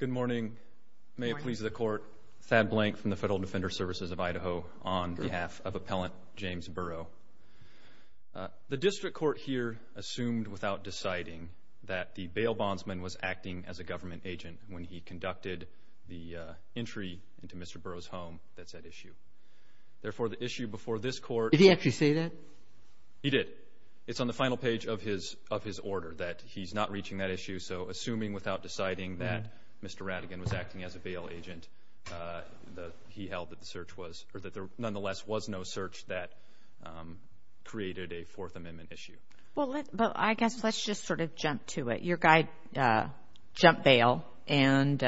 Good morning. May it please the court, Thad Blank from the Federal Defender Services of Idaho on behalf of Appellant James Burrow. The district court here assumed without deciding that the bail bondsman was acting as a government agent when he conducted the entry into Mr. Burrow's home, that's at issue. Therefore, the issue before this court... Did he actually say that? He did. It's on the final page of his order that he's not reaching that issue. So assuming without deciding that Mr. Rattigan was acting as a bail agent, he held that the search was, or that there nonetheless was no search that created a Fourth Amendment issue. Well, I guess let's just sort of jump to it. Your guy jumped bail and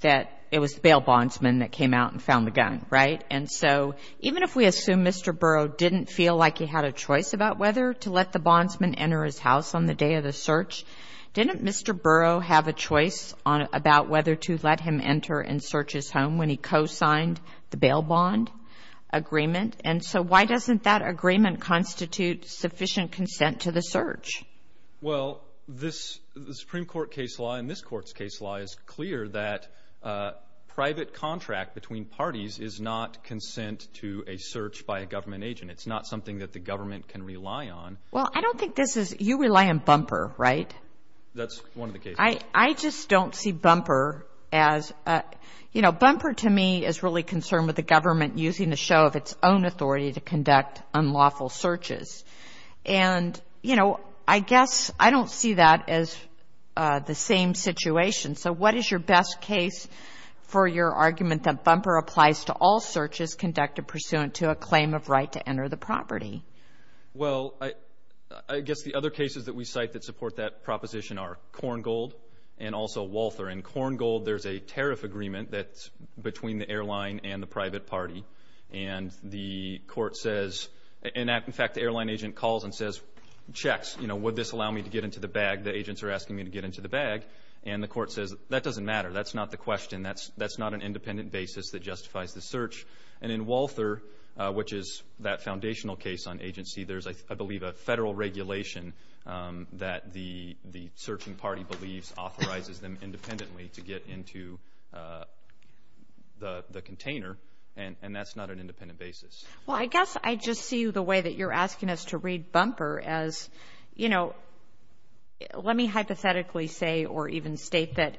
that it was the bail bondsman that came out and found the gun, right? And so even if we assume Mr. Burrow didn't feel like he had a choice about whether to let the bondsman enter his house on the day of the search, didn't Mr. Burrow have a choice about whether to let him enter and search his home when he co-signed the bail bond agreement? And so why doesn't that agreement constitute sufficient consent to the search? Well, the Supreme Court case law and this Court's case law is clear that private contract between parties is not consent to a search by a government agent. It's not something that the government can rely on. Well, I don't think this is, you rely on Bumper, right? That's one of the cases. I just don't see Bumper as, you know, Bumper to me is really concerned with the government using the show of its own authority to conduct unlawful searches. And you know, I guess I don't see that as the same situation. So what is your best case for your argument that Bumper applies to all searches conducted pursuant to a claim of right to enter the property? Well, I guess the other cases that we cite that support that proposition are Korngold and also Walther. In Korngold, there's a tariff agreement that's between the airline and the private party. And the court says, in fact, the airline agent calls and says, checks, you know, would this allow me to get into the bag? The agents are asking me to get into the bag. And the court says, that doesn't matter. That's not the question. That's not an independent basis that justifies the search. And in Walther, which is that foundational case on agency, there's, I believe, a federal regulation that the searching party believes authorizes them independently to get into the container. And that's not an independent basis. Well, I guess I just see the way that you're asking us to read Bumper as, you know, let me hypothetically say or even state that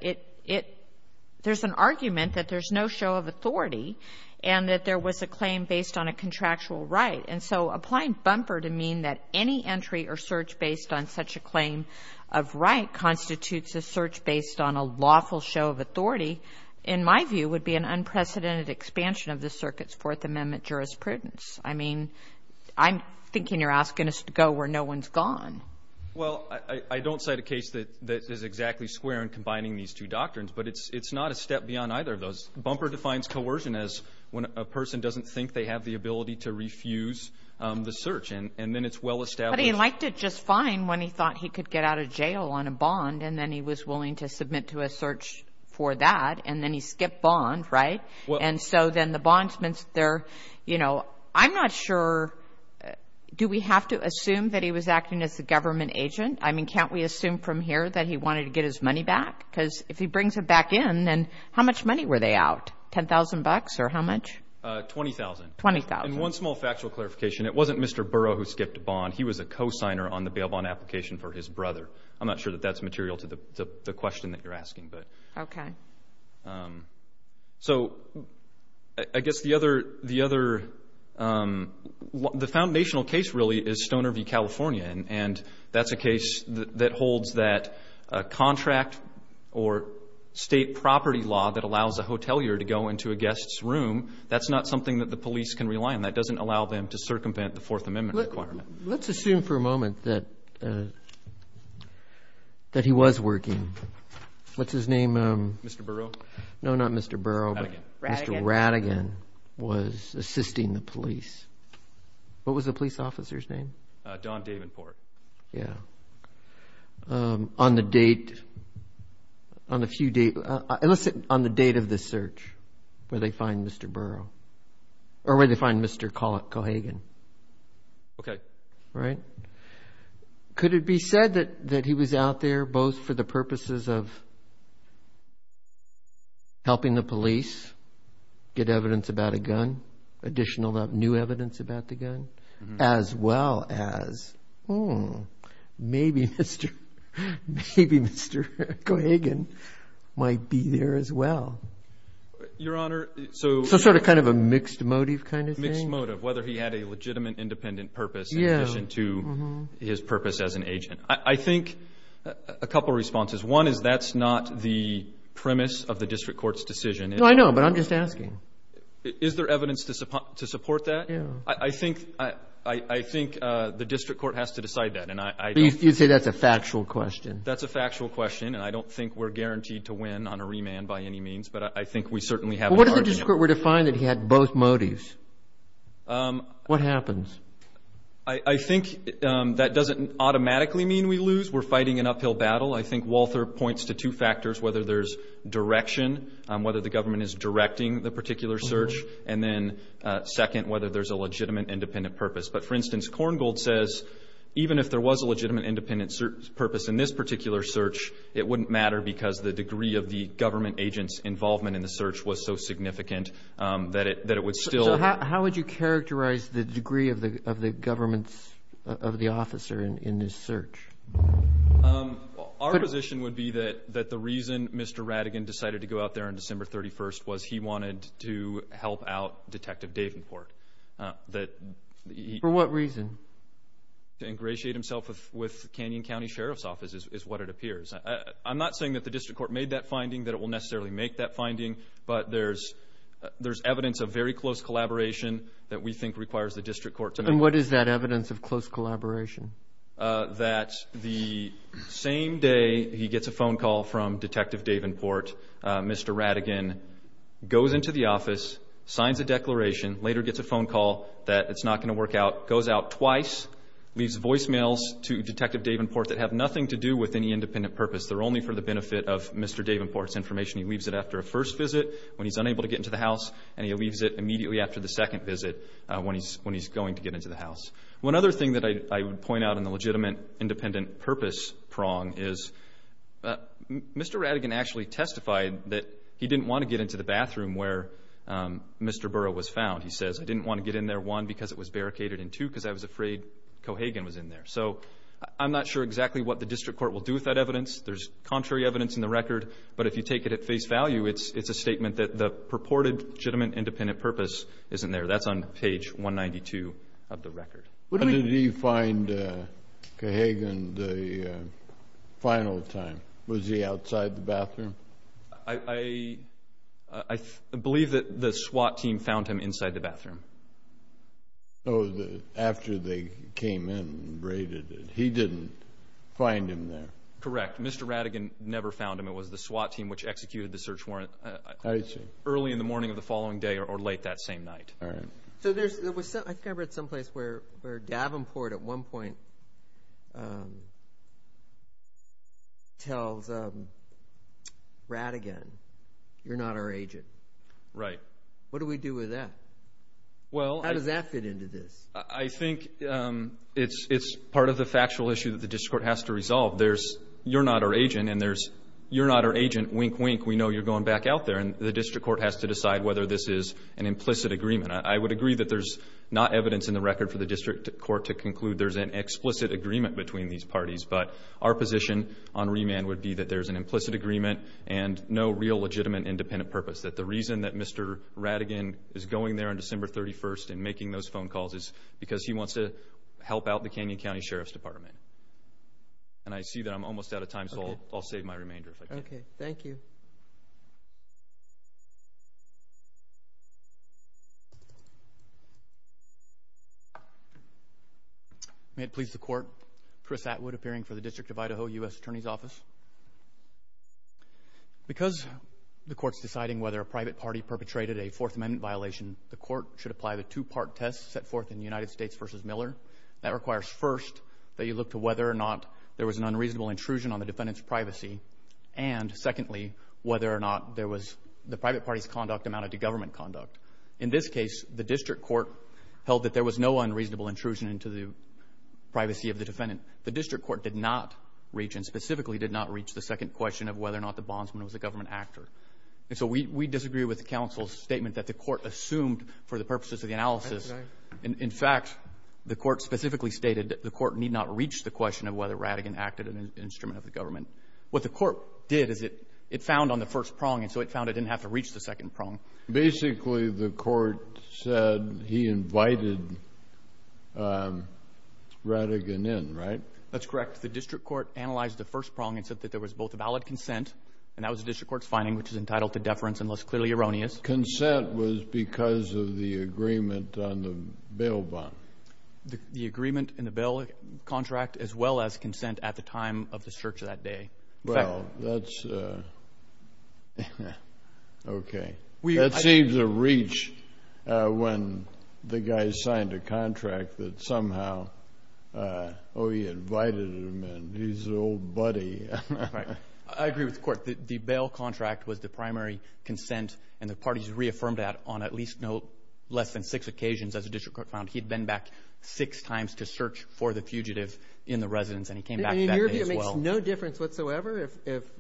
there's an argument that there's no show of authority and that there was a claim based on a contractual right. And so applying Bumper to mean that any entry or search based on such a claim of right constitutes a search based on a lawful show of authority, in my view, would be an unprecedented expansion of the circuit's Fourth Amendment jurisprudence. I mean, I'm thinking you're asking us to go where no one's gone. Well, I don't cite a case that is exactly square in combining these two doctrines, but it's not a step beyond either of those. Bumper defines coercion as when a person doesn't think they have the ability to refuse the search and then it's well established. But he liked it just fine when he thought he could get out of jail on a bond and then he was willing to submit to a search for that and then he skipped bond, right? And so then the bondsman's there, you know, I'm not sure, do we have to assume that he was acting as a government agent? I mean, can't we assume from here that he wanted to get his money back? Because if he brings it back in, then how much money were they out? Ten thousand bucks or how much? Twenty thousand. Twenty thousand. And one small factual clarification. It wasn't Mr. Burrow who skipped a bond. He was a co-signer on the bail bond application for his brother. I'm not sure that that's material to the question that you're asking, but. Okay. Um, so I guess the other, the other, um, the foundational case really is Stoner v. California and that's a case that holds that a contract or state property law that allows a hotelier to go into a guest's room. That's not something that the police can rely on. That doesn't allow them to circumvent the Fourth Amendment requirement. Let's assume for a moment that, uh, that he was working. What's his name? Um. Mr. Burrow. No, not Mr. Burrow. Mr. Radigan. Mr. Radigan was assisting the police. What was the police officer's name? Uh, Don Davenport. Yeah. Um, on the date, on a few dates, let's say on the date of this search, where they find Mr. Burrow or where they find Mr. Cohagen. Okay. Right. Could it be said that, that he was out there both for the purposes of helping the police get evidence about a gun, additional new evidence about the gun, as well as, hmm, maybe Mr., maybe Mr. Cohagen might be there as well? Your Honor, so. So sort of kind of a mixed motive kind of thing? Mixed motive, whether he had a couple responses. One is that's not the premise of the district court's decision. No, I know, but I'm just asking. Is there evidence to support that? Yeah. I think, I think the district court has to decide that, and I don't. You say that's a factual question. That's a factual question, and I don't think we're guaranteed to win on a remand by any means, but I think we certainly have an argument. Well, what if the district court were to find that he had both motives? Um. What happens? I think that doesn't automatically mean we lose. We're fighting an uphill battle. I think Walther points to two factors, whether there's direction, whether the government is directing the particular search, and then second, whether there's a legitimate independent purpose. But for instance, Korngold says even if there was a legitimate independent purpose in this particular search, it wouldn't matter because the degree of the government agent's involvement in the search was so significant that it, that it would still. How would you characterize the degree of the, of the government's, of the officer in this search? Our position would be that, that the reason Mr. Rattigan decided to go out there on December 31st was he wanted to help out Detective Davenport. That he. For what reason? To ingratiate himself with, with Canyon County Sheriff's Office is what it appears. I'm not saying that the district court made that finding, that it will necessarily make that finding, but there's, there's evidence of very close collaboration that we think requires the district court to make. And what is that evidence of close collaboration? That the same day he gets a phone call from Detective Davenport, Mr. Rattigan goes into the office, signs a declaration, later gets a phone call that it's not going to work out, goes out twice, leaves voicemails to Detective Davenport that have nothing to do with any independent purpose. They're only for the benefit of Mr. Davenport's information. He leaves it after a first visit when he's unable to get into the house, and he leaves it immediately after the second visit when he's, when he's going to get into the house. One other thing that I, I would point out in the legitimate independent purpose prong is, Mr. Rattigan actually testified that he didn't want to get into the bathroom where Mr. Burrow was found. He says, I didn't want to get in there, one, because it was barricaded, and two, because I was afraid Cohagen was in there. So I'm not sure exactly what the district court will do with that evidence. There's contrary evidence in the record, but if you take it at face value, it's, it's a statement that the purported legitimate independent purpose isn't there. That's on page 192 of the record. When did he find Cohagen the final time? Was he outside the bathroom? I, I, I believe that the SWAT team found him inside the bathroom. Oh, after they came in and raided it. He didn't find him there? Correct. Mr. Rattigan never found him. It was the SWAT team which executed the search warrant early in the morning of the following day or late that same night. All right. So there's, there was, I think I read someplace where, where Davenport at one point tells Rattigan, you're not our agent. Right. What do we do with that? Well, how does that fit into this? I think it's, it's part of the factual issue that the district court has to resolve. There's, you're not our agent, and there's, you're not our agent, wink, wink, we know you're going back out there, and the district court has to decide whether this is an implicit agreement. I, I would agree that there's not evidence in the record for the district court to conclude there's an explicit agreement between these parties, but our position on remand would be that there's an implicit agreement and no real legitimate independent purpose. That the reason that Mr. Rattigan is going there on December 31st and making those phone calls is because he wants to help out the Canyon County Sheriff's Department. And I see that I'm almost out of time, so I'll, I'll save my remainder if I can. Thank you. May it please the court, Chris Atwood, appearing for the District of Idaho U.S. Attorney's Office. Because the court's deciding whether a private party perpetrated a Fourth Amendment violation, the court should apply the two-part test set forth in United States v. Miller. That requires first that you look to whether or not there was an unreasonable intrusion on the secondly, whether or not there was the private party's conduct amounted to government conduct. In this case, the district court held that there was no unreasonable intrusion into the privacy of the defendant. The district court did not reach and specifically did not reach the second question of whether or not the bondsman was a government actor. And so we, we disagree with the counsel's statement that the court assumed for the purposes of the analysis. In fact, the court specifically stated that the court need not reach the question of whether Rattigan acted as an instrument of the government. What the court did is it, it found on the first prong, and so it found it didn't have to reach the second prong. Basically, the court said he invited Rattigan in, right? That's correct. The district court analyzed the first prong and said that there was both a valid consent, and that was the district court's finding, which is entitled to deference, unless clearly erroneous. Consent was because of the agreement on the bail bond. The agreement in the bail contract as well as consent at the time of the search that day. Well, that's, okay. That seems to reach when the guy signed a contract that somehow, oh, he invited him, and he's an old buddy. Right. I agree with the court. The bail contract was the primary consent, and the parties reaffirmed that on at least no less than six occasions, as the district court found, he'd been back six times to search for the fugitive in the residence, and he came back that day as well. In your view, it makes no difference whatsoever if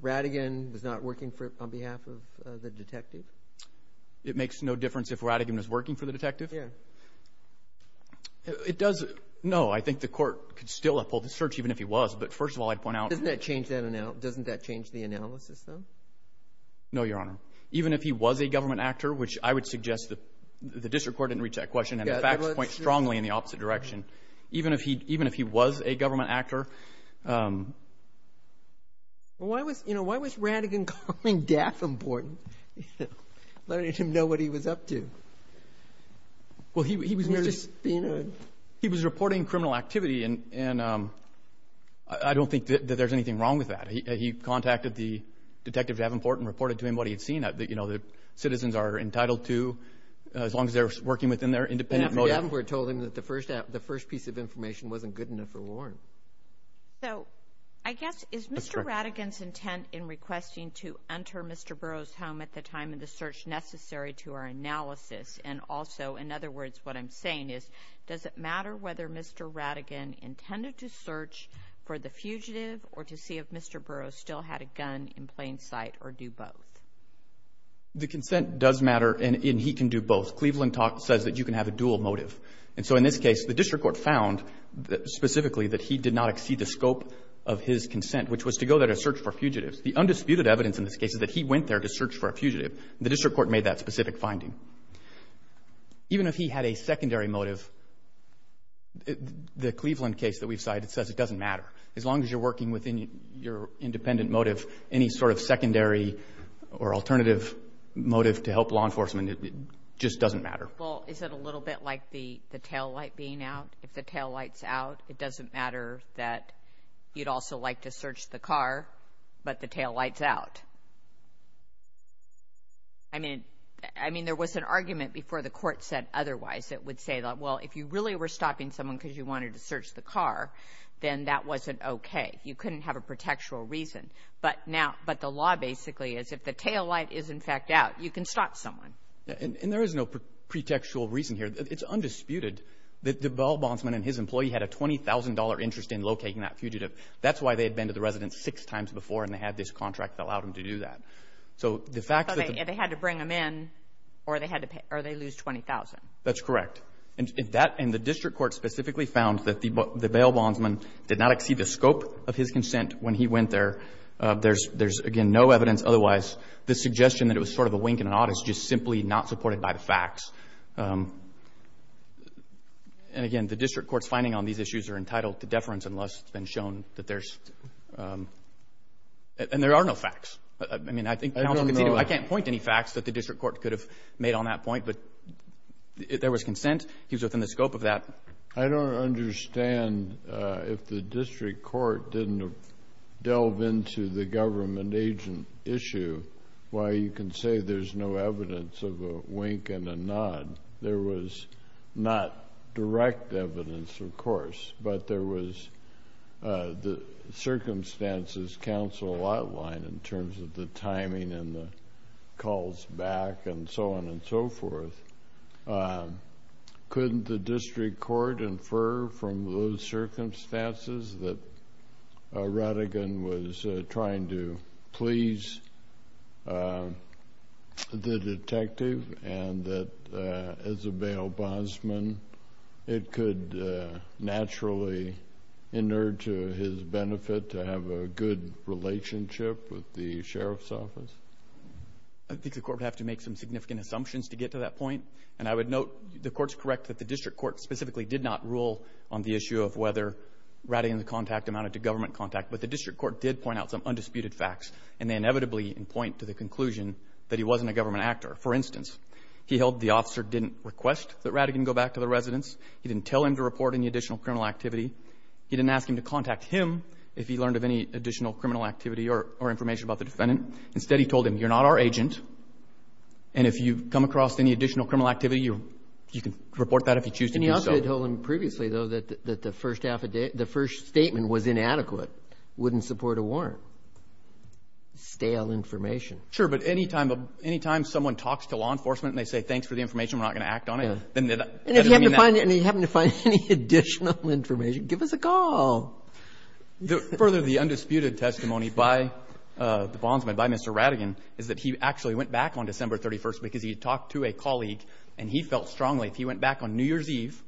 Rattigan was not working on behalf of the detective? It makes no difference if Rattigan was working for the detective? Yeah. It does. No, I think the court could still have pulled the search even if he was, but first of all, I'd point out- Doesn't that change the analysis, though? No, Your Honor. Even if he was a government actor, which I would suggest the district court didn't reach that question, and the facts point strongly in the opposite direction, even if he was a government actor- Well, why was Rattigan calling death important, letting him know what he was up to? Well, he was merely- He was just being a- He was reporting criminal activity, and I don't think that there's anything wrong with that. He contacted the detective Davenport and reported to him what he had seen, that citizens are entitled to, as long as they're working within their independent motive. But Davenport told him that the first piece of information wasn't good enough for Warren. So, I guess, is Mr. Rattigan's intent in requesting to enter Mr. Burroughs' home at the time of the search necessary to our analysis? And also, in other words, what I'm saying is, does it matter whether Mr. Rattigan intended to search for the fugitive or to see if Mr. Burroughs still had a gun in plain sight or do both? The consent does matter, and he can do both. Cleveland says that you can have a dual motive. And so, in this case, the district court found specifically that he did not exceed the scope of his consent, which was to go there to search for fugitives. The undisputed evidence in this case is that he went there to search for a fugitive. The district court made that specific finding. Even if he had a secondary motive, the Cleveland case that we've cited says it doesn't matter. As long as you're working within your independent motive, any sort of secondary or alternative motive to help law enforcement, it just doesn't matter. Well, is it a little bit like the taillight being out? If the taillight's out, it doesn't matter that you'd also like to search the car, but the taillight's out. I mean, there was an argument before the court said otherwise. It would say, well, if you really were stopping someone because you wanted to search the car, then that wasn't okay. You couldn't have a pretextual reason. But the law basically is if the taillight is, in fact, out, you can stop someone. And there is no pretextual reason here. It's undisputed that the ball bondsman and his employee had a $20,000 interest in locating that fugitive. That's why they had been to the residence six times before, and they had this contract that allowed them to do that. So the fact that they had to bring them in, or they lose $20,000. That's correct. And the district court specifically found that the bail bondsman did not exceed the scope of his consent when he went there. There's, again, no evidence otherwise. The suggestion that it was sort of a wink and an odd is just simply not supported by the facts. And, again, the district court's finding on these issues are entitled to deference unless it's been shown that there's – and there are no facts. I mean, I think counsel can see – I can't point to any facts that the district court could have made on that point, but there was consent. He was within the scope of that. I don't understand if the district court didn't delve into the government agent issue why you can say there's no evidence of a wink and an odd. There was not direct evidence, of course, but there was the circumstances counsel outlined in terms of the and so forth. Couldn't the district court infer from those circumstances that Rattigan was trying to please the detective and that, as a bail bondsman, it could naturally inert to his benefit to have a good relationship with the sheriff's office? I think the court would have to make some significant assumptions to get to that point. And I would note the court's correct that the district court specifically did not rule on the issue of whether Rattigan's contact amounted to government contact. But the district court did point out some undisputed facts, and they inevitably point to the conclusion that he wasn't a government actor. For instance, he held the officer didn't request that Rattigan go back to the residence. He didn't tell him to report any additional criminal activity. He didn't ask him to contact him if he learned of any additional criminal activity or information about the defendant. Instead, he told him, you're not our agent, and if you come across any additional criminal activity, you can report that if you choose to do so. And you also told him previously, though, that the first statement was inadequate, wouldn't support a warrant. Stale information. Sure, but any time someone talks to law enforcement and they say, thanks for the information, we're not going to act on it, then that doesn't mean that. And if you happen to find any additional information, give us a call. Further, the undisputed testimony by the bondsman, by Mr. Rattigan, is that he actually went back on December 31st because he had talked to a colleague, and he felt strongly if he went back on New Year's Eve,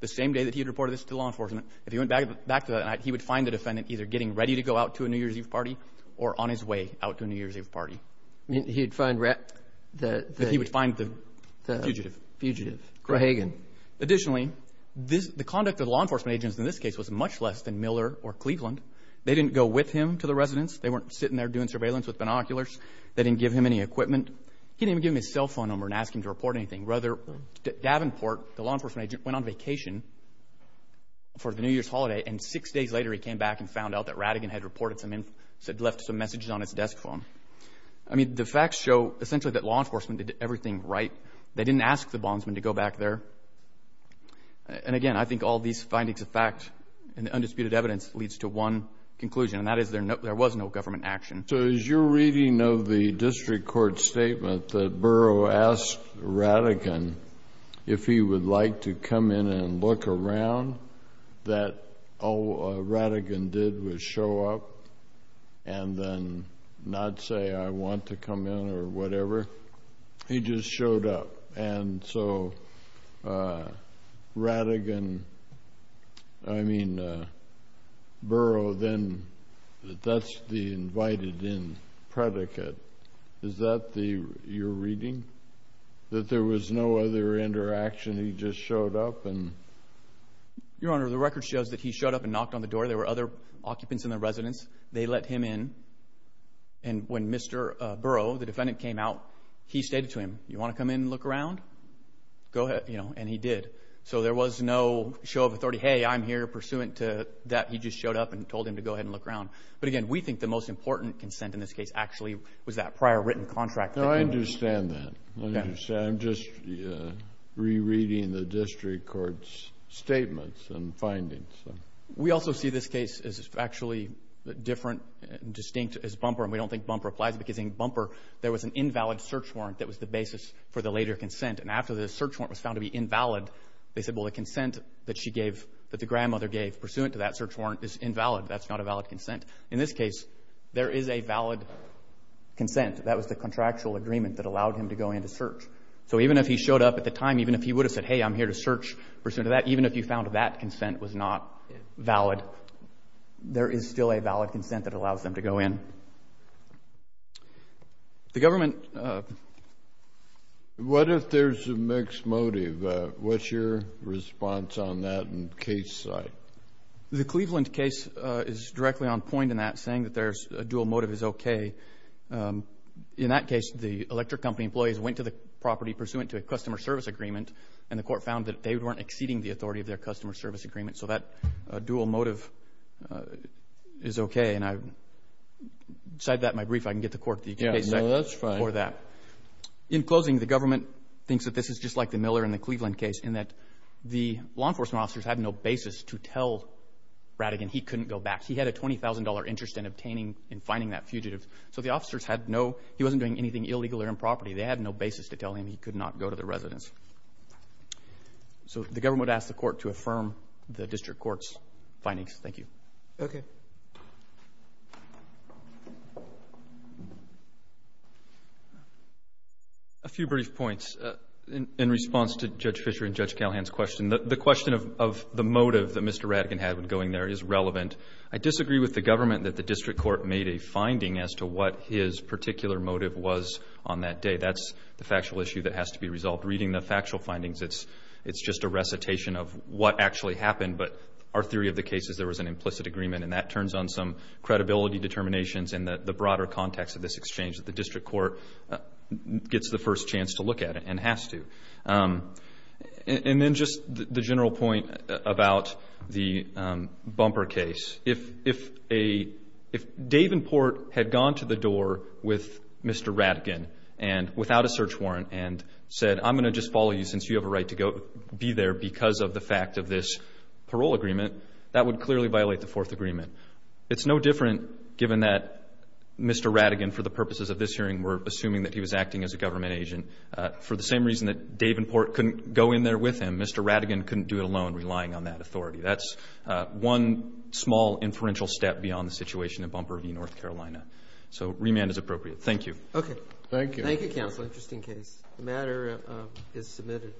the same day that he had reported this to law enforcement, if he went back to that night, he would find the defendant either getting ready to go out to a New Year's Eve party or on his way out to a New Year's Eve party. You mean he would find the fugitive? Fugitive. Corhagan. Additionally, the conduct of the law enforcement agents in this case was much less than Miller or Cleveland. They didn't go with him to the residence. They weren't sitting there doing surveillance with binoculars. They didn't give him any equipment. He didn't even give him his cell phone number and ask him to report anything. Rather, Davenport, the law enforcement agent, went on vacation for the New Year's holiday, and six days later, he came back and found out that Rattigan had reported some information, had left some messages on his desk phone. I mean, the facts show essentially that law enforcement did everything right. They didn't ask the bondsman to go back there. And again, I think all these findings of fact and undisputed evidence leads to one conclusion, and that is there was no government action. So as you're reading of the district court statement that Burrough asked Rattigan if he would like to come in and look around, that all Rattigan did was show up and then not say, I want to come in or whatever. He just showed up. And so Rattigan, I mean, Burrough, then that's the invited-in predicate. Is that your reading? That there was no other interaction? He just showed up? Your Honor, the record shows that he showed up and knocked on the door. There were other occupants in the residence. They let him in. And when Mr. Burrough, the defendant, came out, he stated to him, you want to come in and look around? Go ahead. And he did. So there was no show of authority, hey, I'm here, pursuant to that he just showed up and told him to go ahead and look around. But again, we think the most important consent in this case actually was that prior written contract. No, I understand that. I understand. I'm just rereading the district court's statements and findings. We also see this case as actually different and distinct as Bumper. And we don't think Bumper applies because in Bumper, there was an invalid search warrant that was the basis for the later consent. And after the search warrant was found to be invalid, they said, well, the consent that she gave, that the grandmother gave pursuant to that search warrant is invalid. That's not a valid consent. In this case, there is a valid consent. That was the contractual agreement that allowed him to go in to search. So even if he showed up at the time, even if he would have said, hey, I'm here to search pursuant to that, even if you found that consent was not valid, there is still a valid consent that allows them to go in. The government What if there's a mixed motive? What's your response on that in case site? The Cleveland case is directly on point in that saying that there's a dual motive is okay. In that case, the electric company employees went to the property pursuant to a customer service agreement, and the court found that they weren't exceeding the authority of their customer service agreement. So that dual motive is okay. And I cite that in my brief. I can get the court the case for that. In closing, the government thinks that this is just like the Miller and the Cleveland case in that the law enforcement officers had no basis to tell Rattigan he couldn't go back. He had a $20,000 interest in obtaining and finding that fugitive. So the officers had no he wasn't doing anything illegal or improperly. They had no basis to tell him he could not go to the residence. So the government asked the court to affirm the district court's findings. Thank you. Okay. A few brief points in response to Judge Fisher and Judge Callahan's question. The question of the motive that Mr. Rattigan had when going there is relevant. I disagree with the government that the district court made a finding as to what his particular motive was on that day. That's the factual issue that has to be resolved. Reading the factual findings, it's just a recitation of what actually happened. But our theory of the case is there was an implicit agreement, and that turns on some credibility determinations in the broader context of this exchange that the district court gets the first chance to look at it and has to. And then just the general point about the bumper case. If Dave and Port had gone to the door with Mr. Rattigan and without a search warrant and said, I'm going to just follow you since you have a right to go be there because of the fact of this parole agreement, that would clearly violate the fourth agreement. It's no different given that Mr. Rattigan, for the purposes of this hearing, were assuming that he was acting as a government agent. For the same reason that Dave and Port couldn't go in there with him, Mr. Rattigan couldn't do it alone relying on that authority. That's one small inferential step beyond the situation in Bumper v. North Carolina. So remand is appropriate. Thank you. Okay. Thank you. Thank you, counsel, just in case. The matter is submitted.